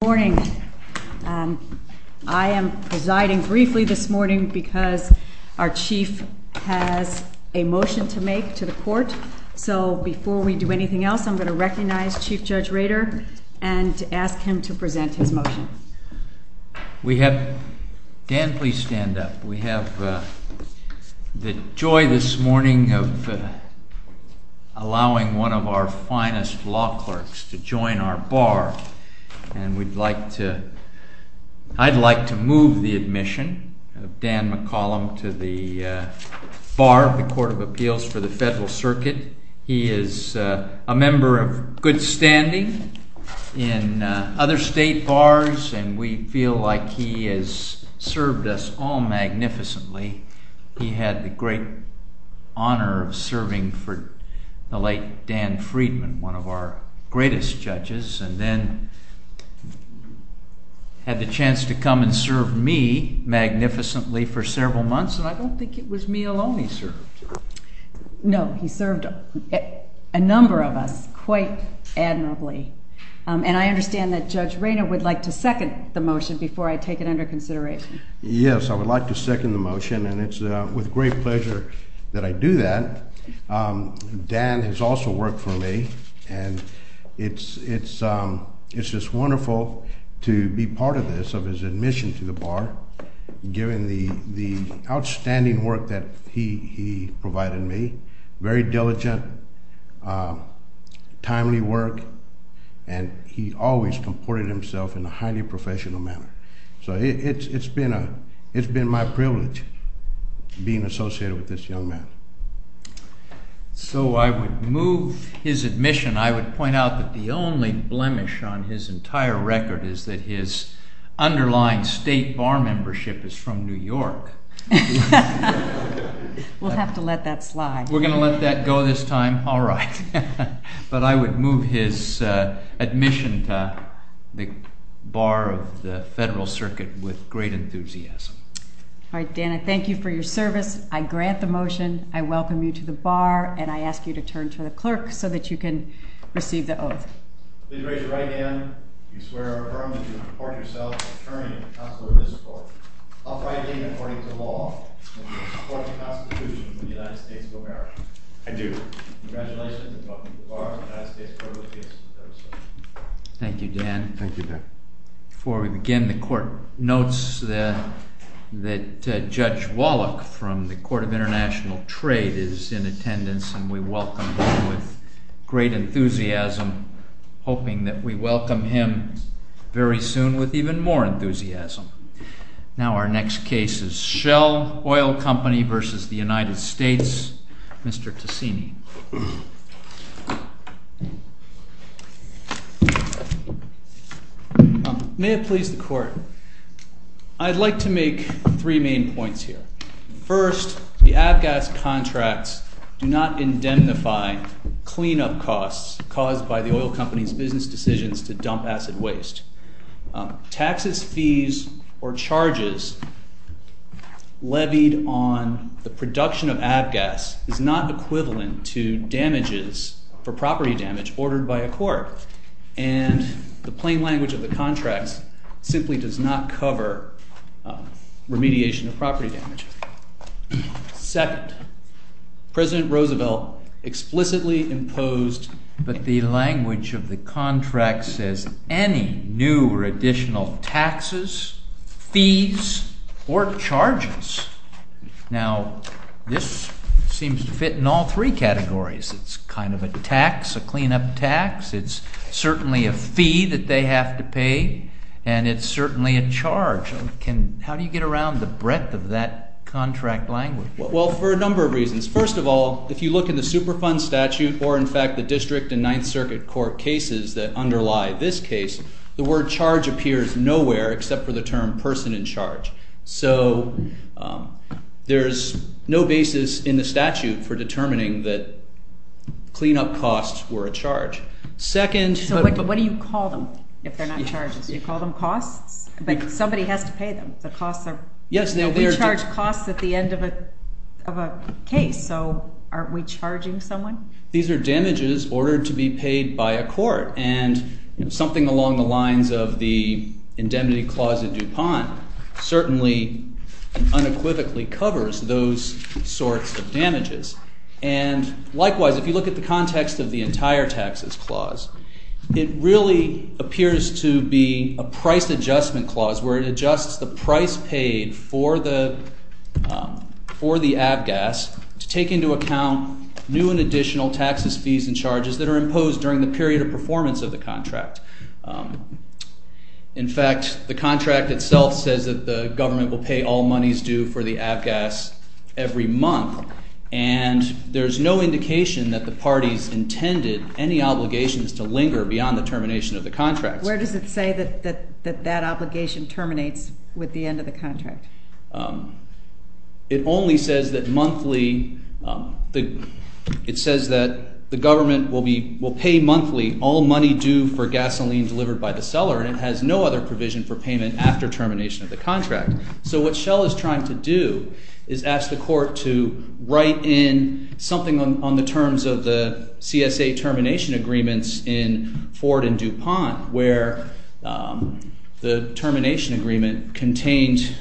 Good morning. I am presiding briefly this morning because our chief has a motion to make to the court. So before we do anything else, I'm going to recognize Chief Judge Rader and ask him to present his motion. We have, Dan, please stand up. We have the joy this morning of allowing one of our finest law clerks to join our bar. And I'd like to move the admission of Dan McCollum to the bar of the Court of Appeals for the Federal Circuit. He is a member of good standing in other state bars. And we feel like he has served us all magnificently. He had the great honor of serving for the late Dan Friedman, one of our greatest judges. And then had the chance to come and serve me magnificently for several months. And I don't think it was me alone he served. No, he served a number of us quite admirably. And I understand that Judge Rader would like to second the motion before I take it under consideration. Yes, I would like to second the motion. And it's with great pleasure that I do that. Dan has also worked for me. And it's just wonderful to be part of this, of his admission to the bar, given the outstanding work that he provided me. Very diligent, timely work. And he always comported himself in a highly professional manner. So it's been my privilege being associated with this young man. So I would move his admission. I would point out that the only blemish on his entire record is that his underlying state bar membership is from New York. We'll have to let that slide. We're going to let that go this time? All right. But I would move his admission to the bar of the Federal Circuit with great enthusiasm. All right, Dan, I thank you for your service. I grant the motion. I welcome you to the bar. And I ask you to turn to the clerk so that you can receive the oath. Please raise your right hand if you swear or affirm that you will report yourself as an attorney and counselor to this court, uprightly and according to law, and in accordance with the Constitution of the United States of America. I do. Congratulations, and welcome to the bar of the United States Court of Appeals. Thank you, Dan. Thank you, Dan. Before we begin, the court notes that Judge Wallach from the Court of International Trade is in attendance, and we welcome him with great enthusiasm, hoping that we welcome him very soon with even more enthusiasm. Now our next case is Shell Oil Company versus the United States. Mr. Tassini. May it please the court, I'd like to make three main points here. First, the ABGAS contracts do not indemnify cleanup costs caused by the oil company's business decisions to dump acid waste. Taxes, fees, or charges levied on the production of ABGAS is not equivalent to damages for property damage ordered by a court. And the plain language of the contracts simply does not cover remediation of property damage. Second, President Roosevelt explicitly imposed, but the language of the contract says, any new or additional taxes, fees, or charges. Now this seems to fit in all three categories. It's kind of a tax, a cleanup tax. It's certainly a fee that they have to pay, and it's certainly a charge. How do you get around the breadth of that contract language? Well, for a number of reasons. First of all, if you look in the Superfund statute, or in fact the district and Ninth Circuit court cases that underlie this case, the word charge appears nowhere except for the term person in charge. So there is no basis in the statute for determining that cleanup costs were a charge. So what do you call them if they're not charges? Do you call them costs? Like somebody has to pay them. The costs are, we charge costs at the end of a case, so aren't we charging someone? These are damages ordered to be paid by a court, and something along the lines of the indemnity clause of DuPont certainly unequivocally covers those sorts of damages. And likewise, if you look at the context of the entire taxes, it really appears to be a price adjustment clause, where it adjusts the price paid for the ABGAS to take into account new and additional taxes, fees, and charges that are imposed during the period of performance of the contract. In fact, the contract itself says that the government will pay all monies due for the ABGAS every month, and there's no indication that the parties intended any obligations to linger beyond the termination of the contract. Where does it say that that obligation terminates with the end of the contract? It only says that monthly, it says that the government will pay monthly all money due for gasoline delivered by the seller, and it has no other provision for payment after termination of the contract. So what Shell is trying to do is ask the court to write in something on the terms of the CSA termination agreements in Ford and DuPont, where the termination agreement contained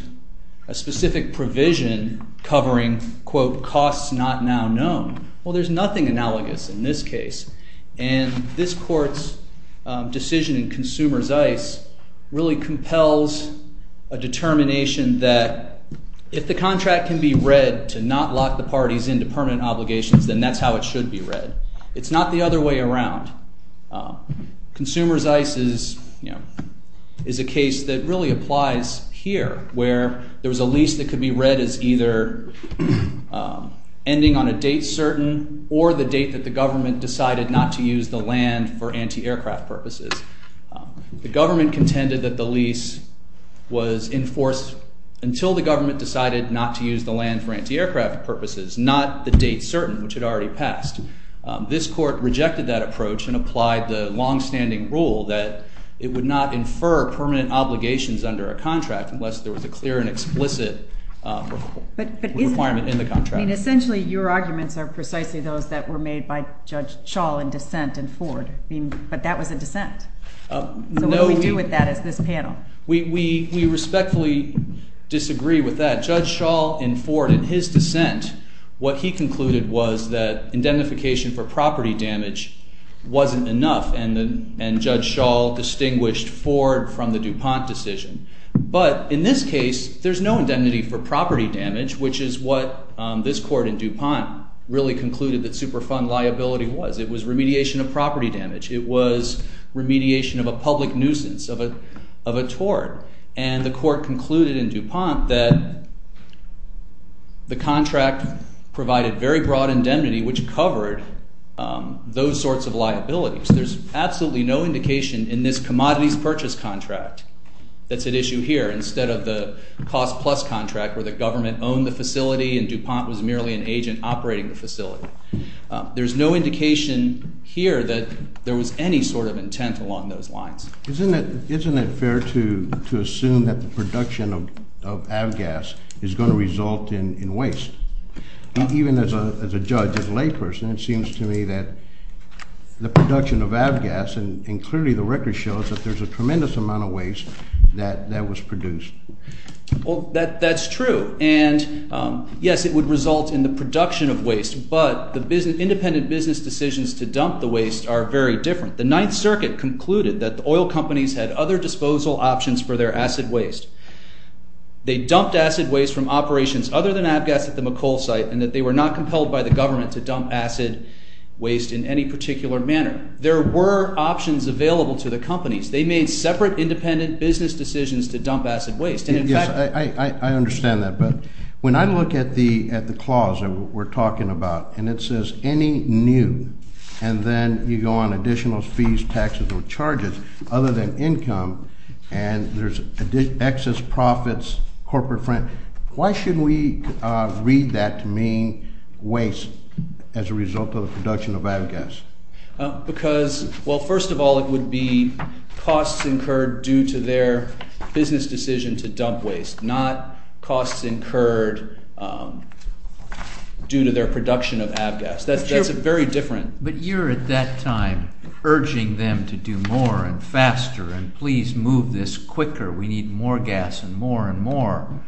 a specific provision covering, quote, costs not now known. Well, there's nothing analogous in this case. And this court's decision in Consumer's Ice really compels a determination that if the contract can be read to not lock the parties into permanent obligations, then that's how it should be read. It's not the other way around. Consumer's Ice is a case that really applies here, where there was a lease that could be read as either ending on a date certain or the date that the government decided not to use the land for anti-aircraft purposes. The government contended that the lease was enforced until the government decided not to use the land for anti-aircraft purposes, not the date certain, which had already passed. This court rejected that approach and applied the longstanding rule that it would not infer permanent obligations under a contract unless there was a clear and explicit requirement in the contract. But essentially, your arguments are precisely those that were made by Judge Schall in dissent in Ford. But that was a dissent. So what do we do with that as this panel? We respectfully disagree with that. Judge Schall in Ford, in his dissent, what he concluded was that indemnification for property damage wasn't enough. And Judge Schall distinguished Ford from the DuPont decision. But in this case, there's no indemnity for property damage, which is what this court in DuPont really concluded that Superfund liability was. It was remediation of property damage. It was remediation of a public nuisance, of a tort. And the court concluded in DuPont that the contract provided very broad indemnity, which covered those sorts of liabilities. There's absolutely no indication in this commodities purchase contract that's at issue here, instead of the cost plus contract where the government owned the facility and DuPont was merely an agent operating the facility. There's no indication here that there was any sort of intent along those lines. Isn't it fair to assume that the production of avgas is going to result in waste? Even as a judge, as a layperson, it seems to me that the production of avgas, and clearly the record shows that there's a tremendous amount of waste that was produced. Well, that's true. And yes, it would result in the production of waste. But independent business decisions to dump the waste are very different. The Ninth Circuit concluded that the oil companies had other disposal options for their acid waste. They dumped acid waste from operations other than avgas at the McColl site, and that they were not compelled by the government to dump acid waste in any particular manner. There were options available to the companies. They made separate independent business decisions to dump acid waste. And in fact, I understand that. But when I look at the clause that we're talking about, and it says any new, and then you go on additional fees, taxes, or charges other than income, and there's excess profits, corporate front, why should we read that to mean waste as a result of the production of avgas? Because, well, first of all, it would be costs incurred due to their business decision to dump waste, not costs incurred due to their production of avgas. That's very different. But you're, at that time, urging them to do more and faster, and please move this quicker. We need more gas and more and more.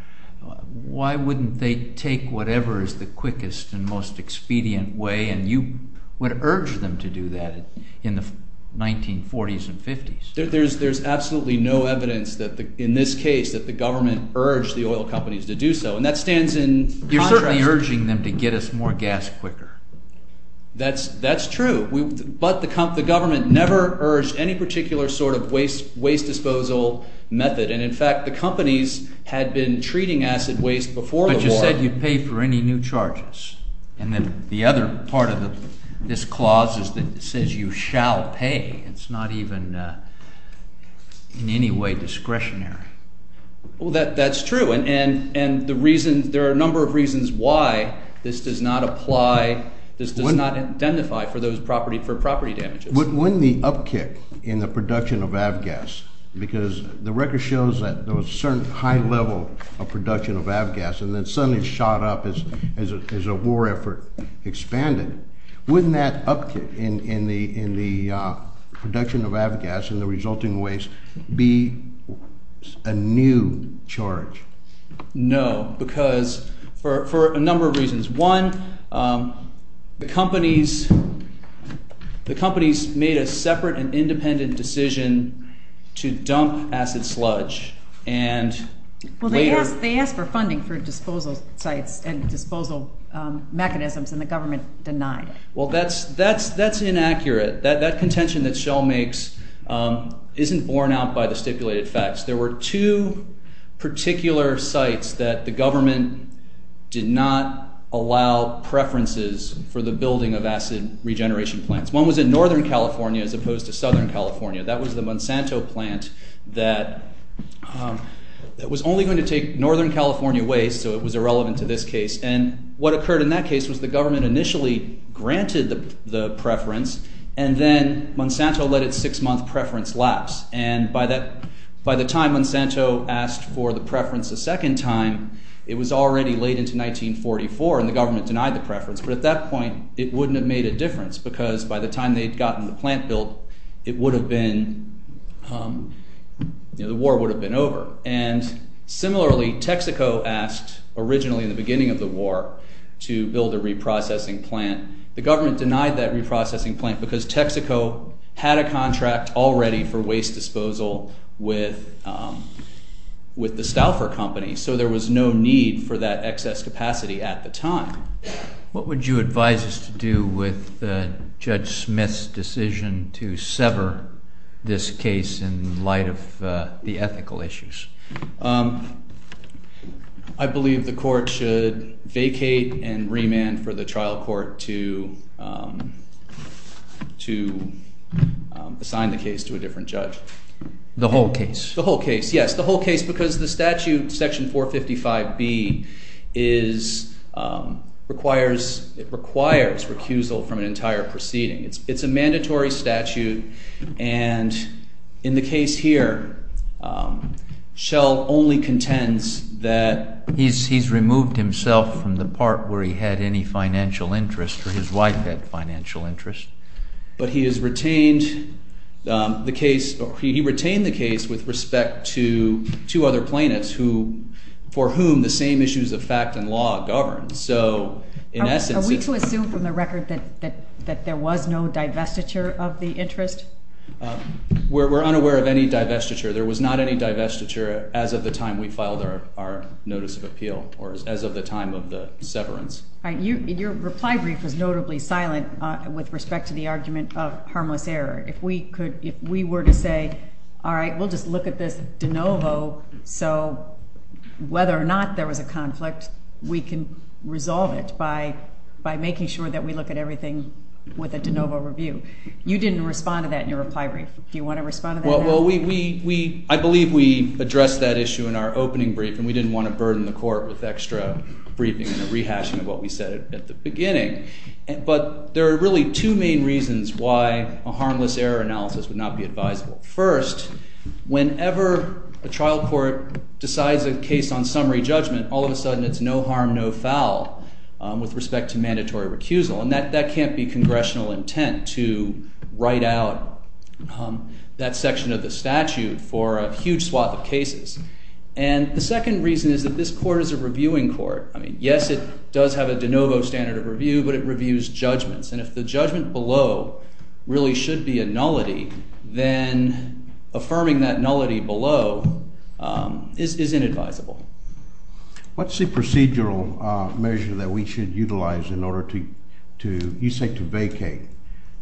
Why wouldn't they take whatever is the quickest and most expedient way? And you would urge them to do that in the 1940s and 50s. There's absolutely no evidence in this case that the government urged the oil companies to do so. And that stands in contrast. You're certainly urging them to get us more gas quicker. That's true. But the government never urged any particular sort of waste disposal method. And in fact, the companies had been treating acid waste before the war. But you said you'd pay for any new charges. And then the other part of this clause is that it says you shall pay. It's not even in any way discretionary. Well, that's true. And there are a number of reasons why this does not apply. This does not identify for property damages. Wouldn't the upkick in the production of avgas, because the record shows that there was a certain high level of production of avgas, and then suddenly it shot up as a war effort expanded. Wouldn't that upkick in the production of avgas and the resulting waste be a new charge? No, because for a number of reasons. One, the companies made a separate and independent decision to dump acid sludge. And later- They asked for funding for disposal sites and disposal mechanisms. And the government denied it. Well, that's inaccurate. That contention that Shell makes isn't borne out by the stipulated facts. There were two particular sites that the government did not allow preferences for the building of acid regeneration plants. One was in Northern California as opposed to Southern California. That was the Monsanto plant that was only going to take Northern California waste, so it was irrelevant to this case. And what occurred in that case was the government initially granted the preference, and then Monsanto let its six-month preference lapse. And by the time Monsanto asked for the preference a second time, it was already late into 1944, and the government denied the preference. But at that point, it wouldn't have made a difference, because by the time they'd gotten the plant built, it would have been- the war would have been over. And similarly, Texaco asked, originally in the beginning of the war, to build a reprocessing plant. The government denied that reprocessing plant because Texaco had a contract already for waste disposal with the Stauffer Company, so there was no need for that excess capacity at the time. What would you advise us to do with Judge Smith's decision to sever this case in light of the ethical issues? I believe the court should vacate and remand for the trial court to assign the case to a different judge. The whole case? The whole case, yes. The whole case, because the statute, Section 455B, requires recusal from an entire proceeding. It's a mandatory statute. And in the case here, Shell only contends that- financial interest, or his wife had financial interest. But he has retained the case, or he retained the case, with respect to two other plaintiffs for whom the same issues of fact and law govern. So in essence- Are we to assume from the record that there was no divestiture of the interest? We're unaware of any divestiture. There was not any divestiture as of the time we filed our notice of appeal, or as of the time of the severance. Your reply brief was notably silent with respect to the argument of harmless error. If we were to say, all right, we'll just look at this de novo, so whether or not there was a conflict, we can resolve it by making sure that we look at everything with a de novo review. You didn't respond to that in your reply brief. Do you want to respond to that now? I believe we addressed that issue in our opening brief. And we didn't want to burden the court with extra briefing and a rehashing of what we said at the beginning. But there are really two main reasons why a harmless error analysis would not be advisable. First, whenever a trial court decides a case on summary judgment, all of a sudden it's no harm, no foul with respect to mandatory recusal. And that can't be congressional intent to write out that section of the statute for a huge swath of cases. And the second reason is that this court is a reviewing court. I mean, yes, it does have a de novo standard of review, but it reviews judgments. And if the judgment below really should be a nullity, then affirming that nullity below is inadvisable. What's the procedural measure that we should utilize in order to, you say, to vacate?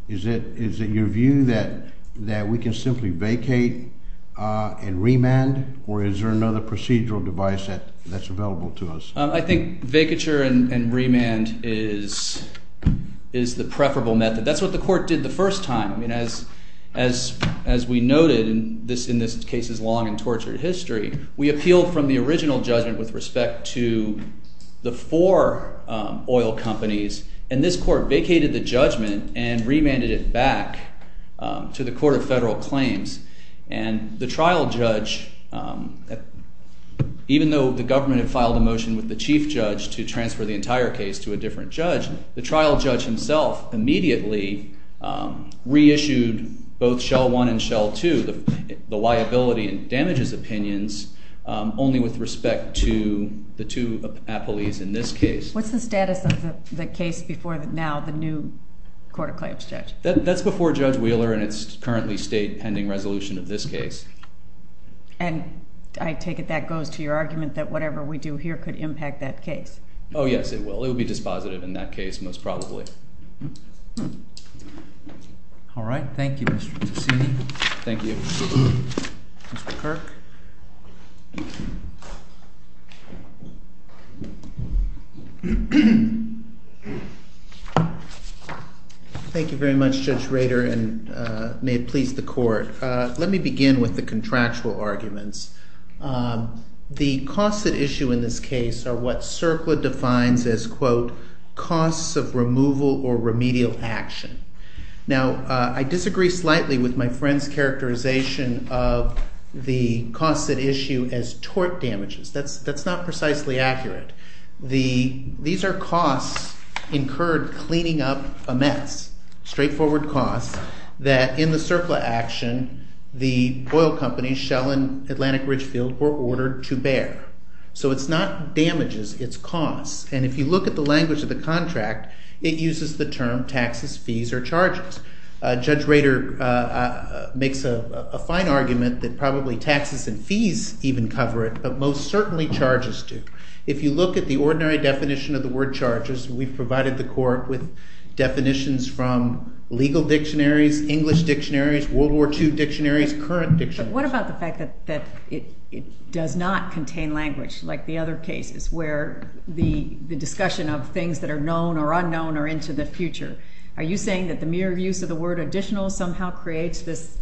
Is it your view that we can simply vacate and remand? Or is there another procedural device that's available to us? I think vacature and remand is the preferable method. That's what the court did the first time. I mean, as we noted in this case's long and tortured history, we appealed from the original judgment with respect to the four oil companies. And this court vacated the judgment and remanded it back to the Court of Federal Claims. And the trial judge, even though the government had filed a motion with the chief judge to transfer the entire case to a different judge, the trial judge himself immediately reissued both Shell 1 and Shell 2, the liability and damages opinions, only with respect to the two appellees in this case. What's the status of the case before now the new Court of Claims judge? That's before Judge Wheeler, and it's currently state-pending resolution of this case. And I take it that goes to your argument that whatever we do here could impact that case? Oh, yes, it will. It will be dispositive in that case, most probably. All right. Thank you, Mr. Tussini. Thank you. Mr. Kirk. Thank you very much, Judge Rader. And may it please the Court, let me begin with the contractual arguments. The costs at issue in this case are what CERCLA defines as, quote, costs of removal or remedial action. Now, I disagree slightly with my friend's characterization of the costs at issue as tort damages. That's not precisely accurate. These are costs incurred cleaning up a mess, straightforward costs, that in the CERCLA action, the oil companies, Shell and Atlantic Ridgefield, were ordered to bear. So it's not damages. It's costs. And if you look at the language of the contract, it uses the term taxes, fees, or charges. Judge Rader makes a fine argument that probably taxes and fees even cover it, but most certainly charges do. If you look at the ordinary definition of the word charges, we've provided the Court with definitions from legal dictionaries, English dictionaries, World War II dictionaries, current dictionaries. But what about the fact that it does not contain language, like the other cases, where the discussion of things that are known or unknown are into the future? Are you saying that the mere use of the word additional somehow creates this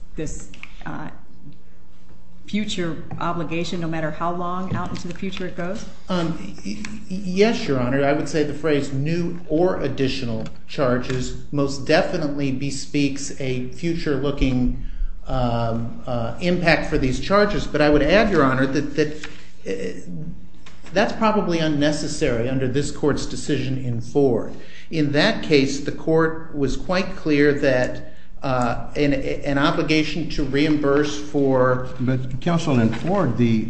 future obligation, no matter how long out into the future it goes? Yes, Your Honor. I would say the phrase new or additional charges most definitely bespeaks a future-looking impact for these charges. But I would add, Your Honor, that that's probably unnecessary under this Court's decision in Ford. In that case, the Court was quite clear that an obligation to reimburse for- But counsel, in Ford, the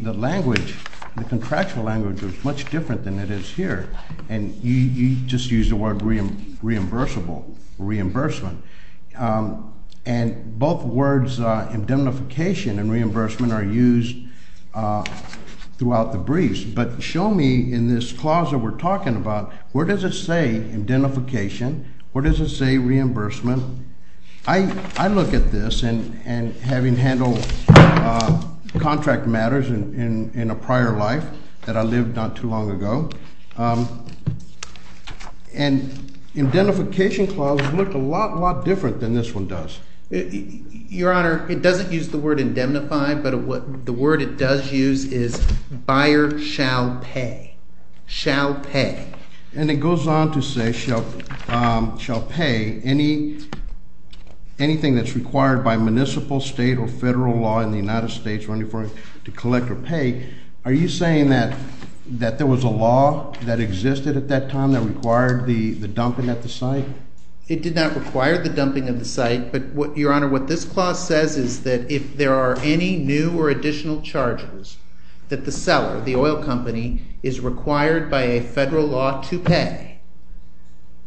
contractual language was much different than it is here. And you just used the word reimbursable, reimbursement. And both words indemnification and reimbursement are used throughout the briefs. But show me, in this clause that we're talking about, where does it say indemnification? Where does it say reimbursement? I look at this, and having handled contract matters in a prior life that I lived not too long ago, and indemnification clauses look a lot, lot different than this one does. Your Honor, it doesn't use the word indemnify, but the word it does use is buyer shall pay. Shall pay. And it goes on to say shall pay anything that's required by municipal, state, or federal law in the United States running for it to collect or pay. Are you saying that there was a law that existed at that time that required the dumping at the site? It did not require the dumping of the site. But Your Honor, what this clause says is that if there are any new or additional charges that the seller, the oil company, is required by a federal law to pay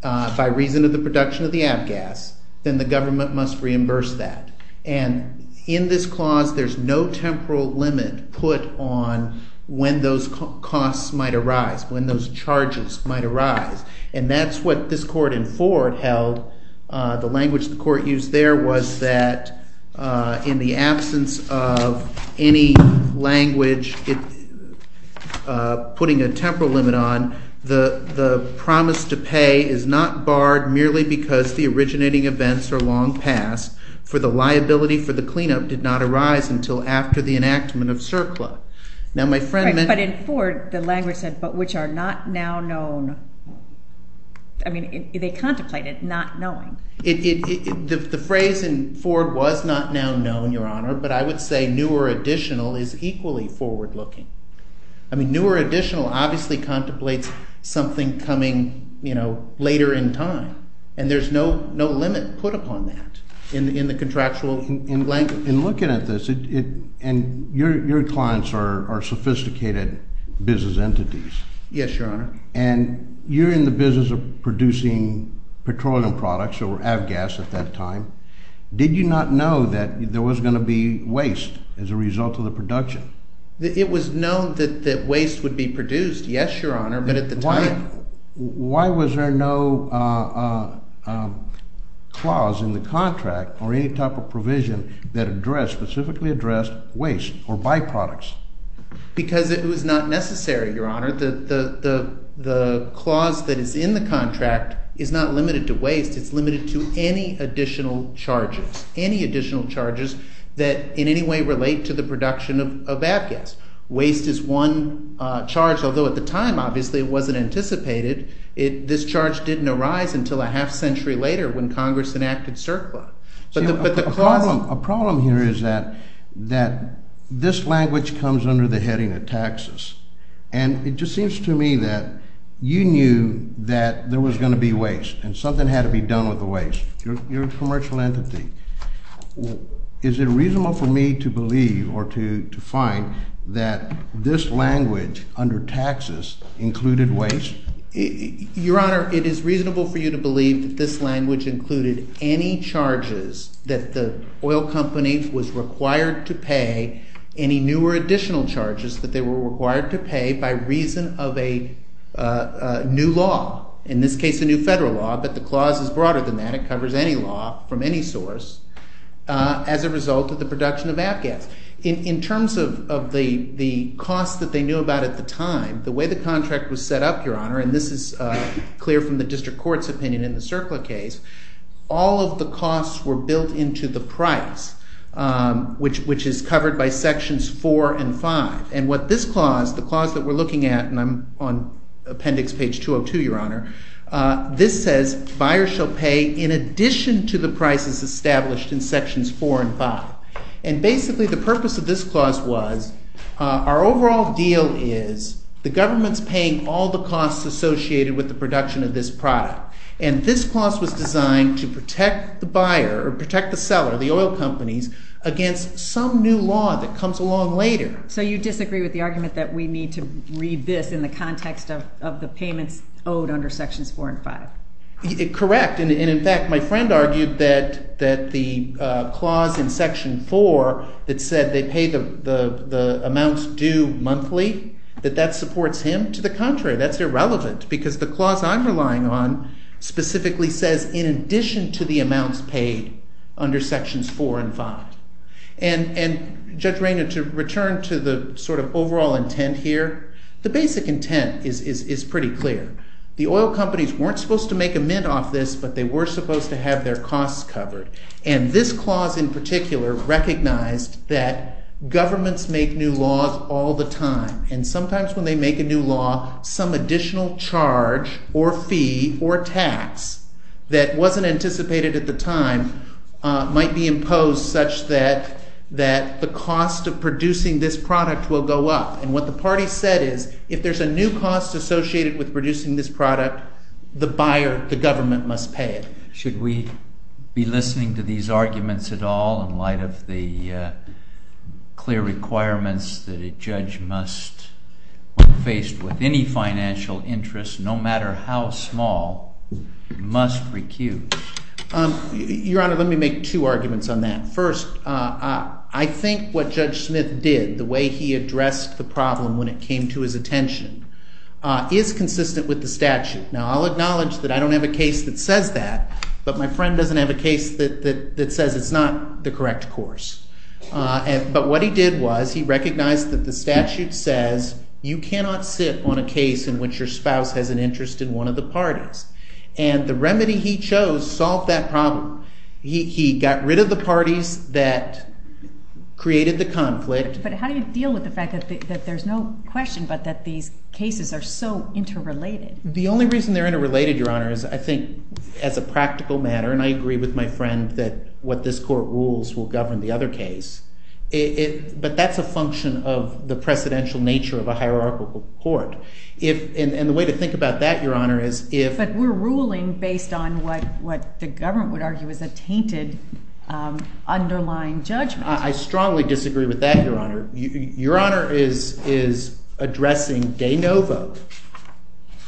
by reason of the production of the ABGAS, then the government must reimburse that. And in this clause, there's no temporal limit put on when those costs might arise, when those charges might arise. And that's what this court in Ford held. The language the court used there was that in the absence of any language putting a temporal limit on, the promise to pay is not barred merely because the originating events are long past, for the liability for the cleanup did not arise until after the enactment of CERCLA. Now, my friend meant. But in Ford, the language said, but which are not now known. I mean, they contemplated not knowing. The phrase in Ford was not now known, Your Honor. But I would say new or additional is equally forward looking. I mean, new or additional obviously contemplates something coming later in time. And there's no limit put upon that in the contractual language. In looking at this, and your clients are sophisticated business entities. Yes, Your Honor. And you're in the business of producing petroleum products, or ABGAS at that time. Did you not know that there was going to be waste as a result of the production? It was known that waste would be produced, yes, Your Honor. But at the time. Why was there no clause in the contract or any type of provision that specifically addressed waste or byproducts? Because it was not necessary, Your Honor. The clause that is in the contract is not limited to waste. It's limited to any additional charges. Any additional charges that in any way relate to the production of ABGAS. Waste is one charge, although at the time, obviously, it wasn't anticipated. This charge didn't arise until a half century later when Congress enacted CERCLA. A problem here is that this language comes under the heading of taxes. And it just seems to me that you knew that there was going to be waste, and something had to be done with the waste. You're a commercial entity. Is it reasonable for me to believe or to find that this language under taxes included waste? Your Honor, it is reasonable for you to believe that this language included any charges that the oil company was required to pay, any new or additional charges that they were required to pay by reason of a new law. In this case, a new federal law. But the clause is broader than that. It covers any law from any source as a result of the production of ABGAS. In terms of the cost that they knew about at the time, the way the contract was set up, Your Honor, and this is clear from the district court's opinion in the CERCLA case, all of the costs were built into the price, which is covered by sections four and five. And what this clause, the clause that we're looking at, and I'm on appendix page 202, Your Honor, this says, buyers shall pay in addition to the prices established in sections four and five. And basically, the purpose of this clause was our overall deal is the government's paying all the costs associated with the production of this product. And this clause was designed to protect the buyer, or protect the seller, the oil companies, against some new law that comes along later. So you disagree with the argument that we need to read this in the context of the payments owed under sections four and five? Correct. And in fact, my friend argued that the clause in section four that said they pay the amounts due monthly, that that supports him. To the contrary, that's irrelevant, because the clause I'm relying on specifically says, in addition to the amounts paid under sections four and five. And Judge Rayner, to return to the overall intent here, the basic intent is pretty clear. The oil companies weren't supposed to make a mint off this, but they were supposed to have their costs covered. And this clause, in particular, recognized that governments make new laws all the time. And sometimes when they make a new law, some additional charge, or fee, or tax that wasn't anticipated at the time might be imposed such that the cost of producing this product will go up. And what the party said is, if there's a new cost associated with producing this product, the buyer, the government, must pay it. Should we be listening to these arguments at all in light of the clear requirements that a judge must, when faced with any financial interest, no matter how small, must recuse? Your Honor, let me make two arguments on that. First, I think what Judge Smith did, the way he addressed the problem when it came to his attention, is consistent with the statute. Now, I'll acknowledge that I don't have a case that says that, but my friend doesn't have a case that says it's not the correct course. But what he did was he recognized that the statute says you cannot sit on a case in which your spouse has an interest in one of the parties. And the remedy he chose solved that problem. He got rid of the parties that created the conflict. But how do you deal with the fact that there's no question but that these cases are so interrelated? The only reason they're interrelated, Your Honor, is I think, as a practical matter, and I agree with my friend that what this court rules will govern the other case, but that's a function of the precedential nature of a hierarchical court. And the way to think about that, Your Honor, is if- But we're ruling based on what the government would argue is a tainted underlying judgment. I strongly disagree with that, Your Honor. Your Honor is addressing de novo,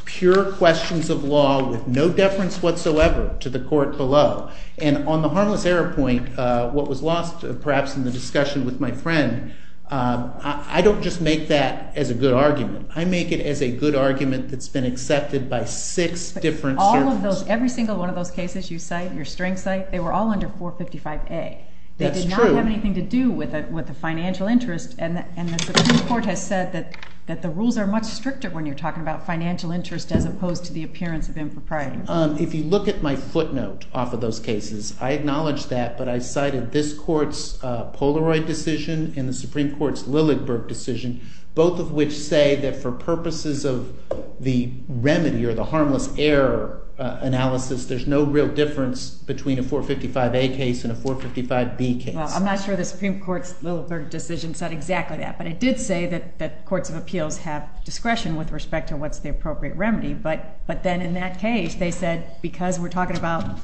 pure questions of law with no deference whatsoever to the court below. And on the harmless error point, what was lost, perhaps, in the discussion with my friend, I don't just make that as a good argument. I make it as a good argument that's been accepted by six different circles. Every single one of those cases you cite, your string cite, they were all under 455A. That's true. It doesn't have anything to do with the financial interest. And the Supreme Court has said that the rules are much stricter when you're talking about financial interest as opposed to the appearance of impropriety. If you look at my footnote off of those cases, I acknowledge that. But I cited this court's Polaroid decision and the Supreme Court's Lilligberg decision, both of which say that for purposes of the remedy or the harmless error analysis, there's no real difference between a 455A case and a 455B case. I'm not sure the Supreme Court's Lilligberg decision said exactly that. But it did say that courts of appeals have discretion with respect to what's the appropriate remedy. But then in that case, they said because we're talking about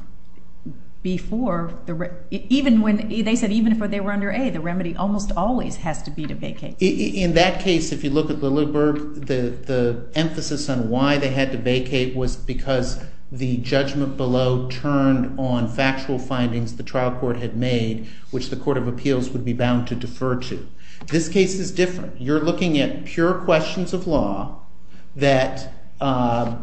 before, they said even if they were under A, the remedy almost always has to be to vacate. In that case, if you look at Lilligberg, the emphasis on why they had to vacate was because the judgment below turned on factual findings the trial court had made, which the court of appeals would be bound to defer to. This case is different. You're looking at pure questions of law that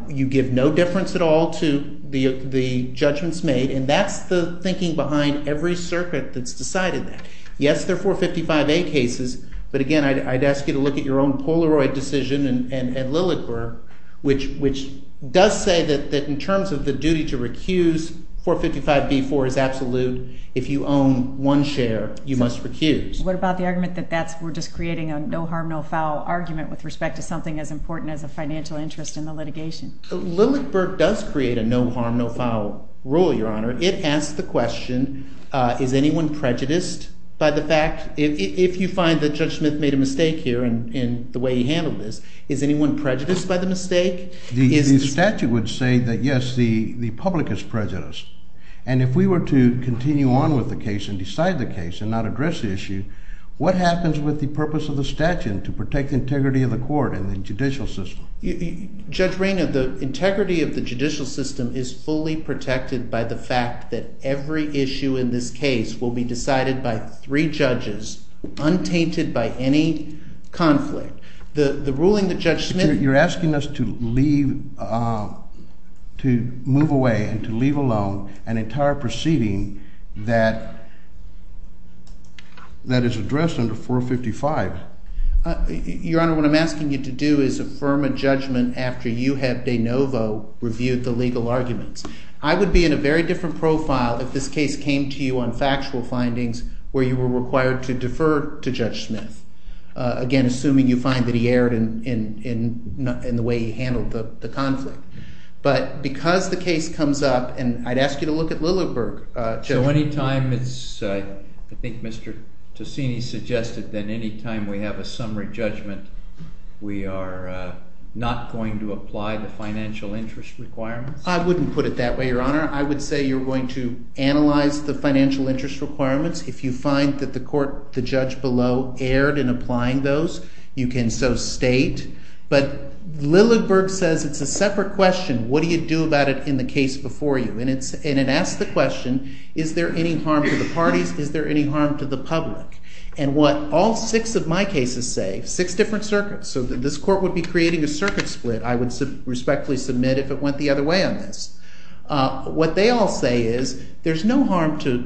you give no difference at all to the judgments made. And that's the thinking behind every circuit that's decided that. Yes, they're 455A cases. But again, I'd ask you to look at your own Polaroid decision and Lilligberg, which does say that in terms of the duty to recuse, 455B4 is absolute. If you own one share, you must recuse. What about the argument that we're just creating a no harm, no foul argument with respect to something as important as a financial interest in the litigation? Lilligberg does create a no harm, no foul rule, Your Honor. It asks the question, is anyone prejudiced by the fact? If you find that Judge Smith made a mistake here in the way he handled this, is anyone prejudiced by the mistake? The statute would say that, yes, the public is prejudiced. And if we were to continue on with the case and decide the case and not address the issue, what happens with the purpose of the statute to protect the integrity of the court and the judicial system? Judge Raynor, the integrity of the judicial system is fully protected by the fact that every issue in this case will be decided by three judges, untainted by any conflict. The ruling that Judge Smith- You're asking us to move away and to leave alone an entire proceeding that is addressed under 455. Your Honor, what I'm asking you to do is affirm a judgment after you have de novo reviewed the legal arguments. I would be in a very different profile if this case came to you on factual findings where you were required to defer to Judge Smith, again, assuming you find that he erred in the way he handled the conflict. But because the case comes up, and I'd ask you to look at Lilliburg, Judge- So any time it's, I think Mr. Tosini suggested that any time we have a summary judgment, we are not going to apply the financial interest requirements? I wouldn't put it that way, Your Honor. I would say you're going to analyze the financial interest requirements. If you find that the court, the judge below, erred in applying those, you can so state. But Lilliburg says it's a separate question. What do you do about it in the case before you? And it asks the question, is there any harm to the parties? Is there any harm to the public? And what all six of my cases say, six different circuits. So this court would be creating a circuit split. I would respectfully submit if it went the other way on this. What they all say is, there's no harm to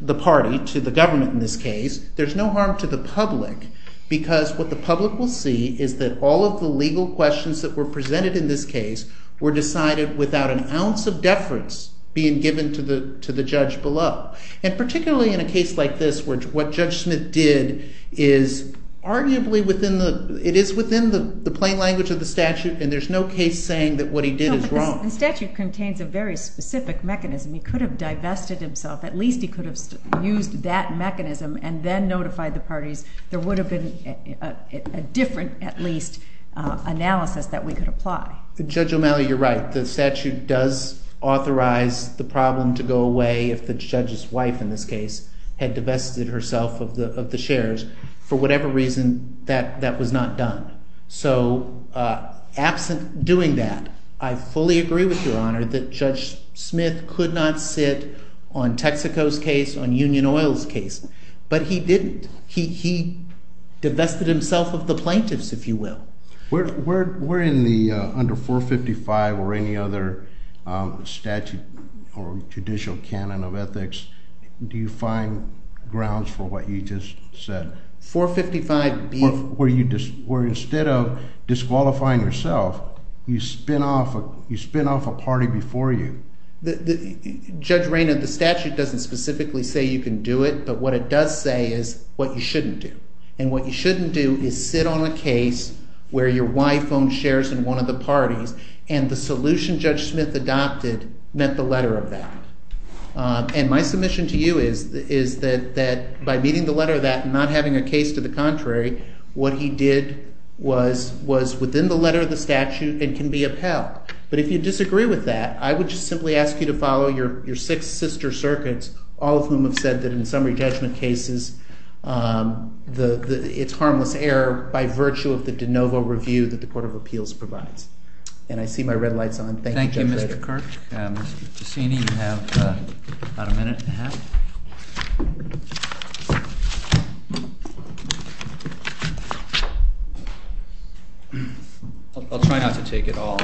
the party to the government in this case. There's no harm to the public. Because what the public will see is that all of the legal questions that were presented in this case were decided without an ounce of deference being given to the judge below. And particularly in a case like this, what Judge Smith did is arguably within the, it is within the plain language of the statute. And there's no case saying that what he did is wrong. The statute contains a very specific mechanism. He could have divested himself. At least he could have used that mechanism and then notified the parties. There would have been a different, at least, analysis that we could apply. Judge O'Malley, you're right. The statute does authorize the problem to go away if the judge's wife, in this case, had divested herself of the shares for whatever reason that that was not done. So absent doing that, I fully agree with your honor that Judge Smith could not sit on Texaco's case, on Union Oil's case. But he didn't. He divested himself of the plaintiffs, if you will. Where in the under 455 or any other statute or judicial canon of ethics do you find grounds for what you just said? 455 being? Where instead of disqualifying yourself, you spin off a party before you? Judge Raynor, the statute doesn't specifically say you can do it. But what it does say is what you shouldn't do. And what you shouldn't do is sit on a case where your wife owns shares in one of the parties. And the solution Judge Smith adopted met the letter of that. And my submission to you is that by meeting the letter of that and not having a case to the contrary, what he did was within the letter of the statute and can be upheld. But if you disagree with that, I would just simply ask you to follow your six sister circuits, all of whom have said that in summary judgment cases, it's harmless error by virtue of the de novo review that the Court of Appeals provides. And I see my red lights on. Thank you, Judge Raynor. Thank you, Mr. Kirk. Mr. Cassini, you have about a minute and a half. I'll try not to take it all.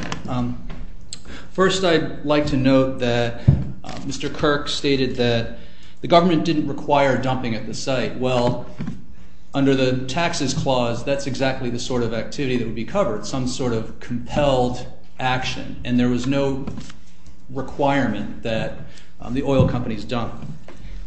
First, I'd like to note that Mr. Kirk stated that the government didn't require dumping at the site. Well, under the taxes clause, that's exactly the sort of activity that would be covered, some sort of compelled action. And there was no requirement that the oil companies dump.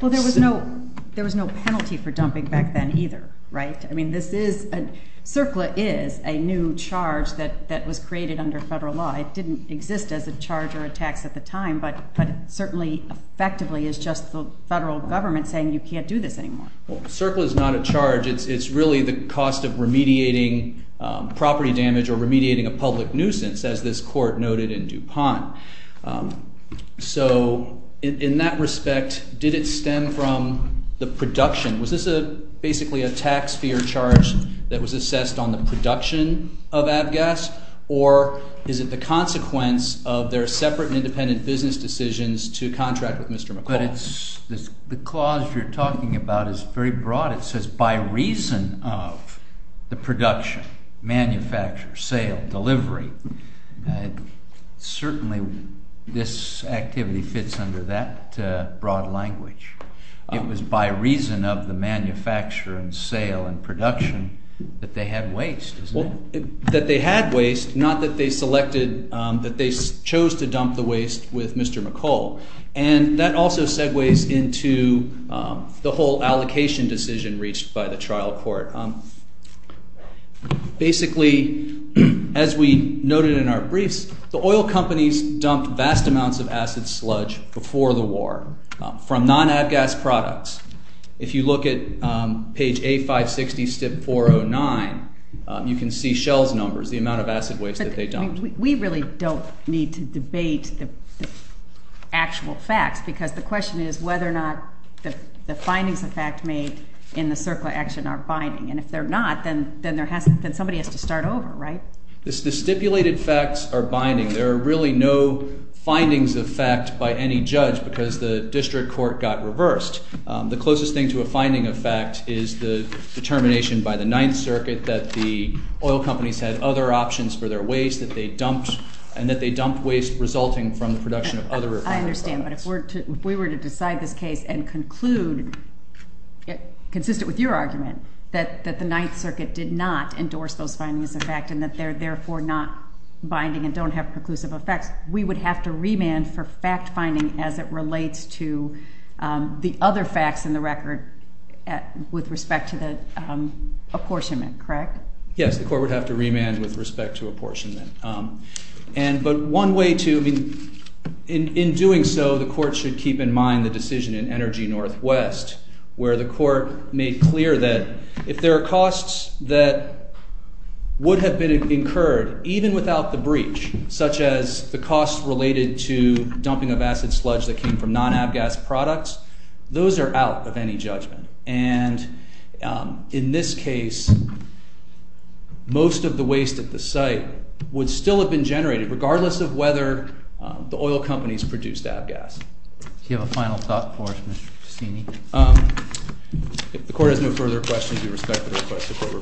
Well, there was no penalty for dumping back then either. I mean, CERCLA is a new charge that was created under federal law. It didn't exist as a charge or a tax at the time. But it certainly effectively is just the federal government saying you can't do this anymore. CERCLA is not a charge. It's really the cost of remediating property damage or remediating a public nuisance, as this court noted in DuPont. So in that respect, did it stem from the production? Was this basically a tax fee or charge that was assessed on the production of Avgas? Or is it the consequence of their separate and independent business decisions to contract with Mr. McLaughlin? The clause you're talking about is very broad. It says, by reason of the production, manufacture, sale, delivery. Certainly, this activity fits under that broad language. It was by reason of the manufacture and sale and production that they had waste, isn't it? That they had waste, not that they selected, that they chose to dump the waste with Mr. McCall. And that also segues into the whole allocation decision reached by the trial court. Basically, as we noted in our briefs, the oil companies dumped vast amounts of acid sludge before the war from non-Avgas products. If you look at page A560, STIP 409, you can see Shell's numbers, the amount of acid waste that they dumped. We really don't need to debate the actual facts, because the question is whether or not the findings of fact made in the CERCLA action are binding. And if they're not, then somebody has to start over, right? The stipulated facts are binding. There are really no findings of fact by any judge, because the district court got reversed. The closest thing to a finding of fact is the determination by the Ninth Circuit that the oil companies had other options for their waste and that they dumped waste resulting from the production of other products. I understand, but if we were to decide this case and conclude, consistent with your argument, that the Ninth Circuit did not endorse those findings of fact and that they're therefore not binding and don't have preclusive effects, we would have to remand for fact finding as it relates to the other facts in the record with respect to the apportionment, correct? Yes, the court would have to remand with respect to apportionment. But one way to, in doing so, the court should keep in mind the decision in Energy Northwest, where the court made clear that if there are costs that would have incurred, even without the breach, such as the costs related to dumping of acid sludge that came from non-ABGAS products, those are out of any judgment. And in this case, most of the waste at the site would still have been generated, regardless of whether the oil companies produced ABGAS. Do you have a final thought for us, Mr. Cassini? If the court has no further questions, we respect the request of the court.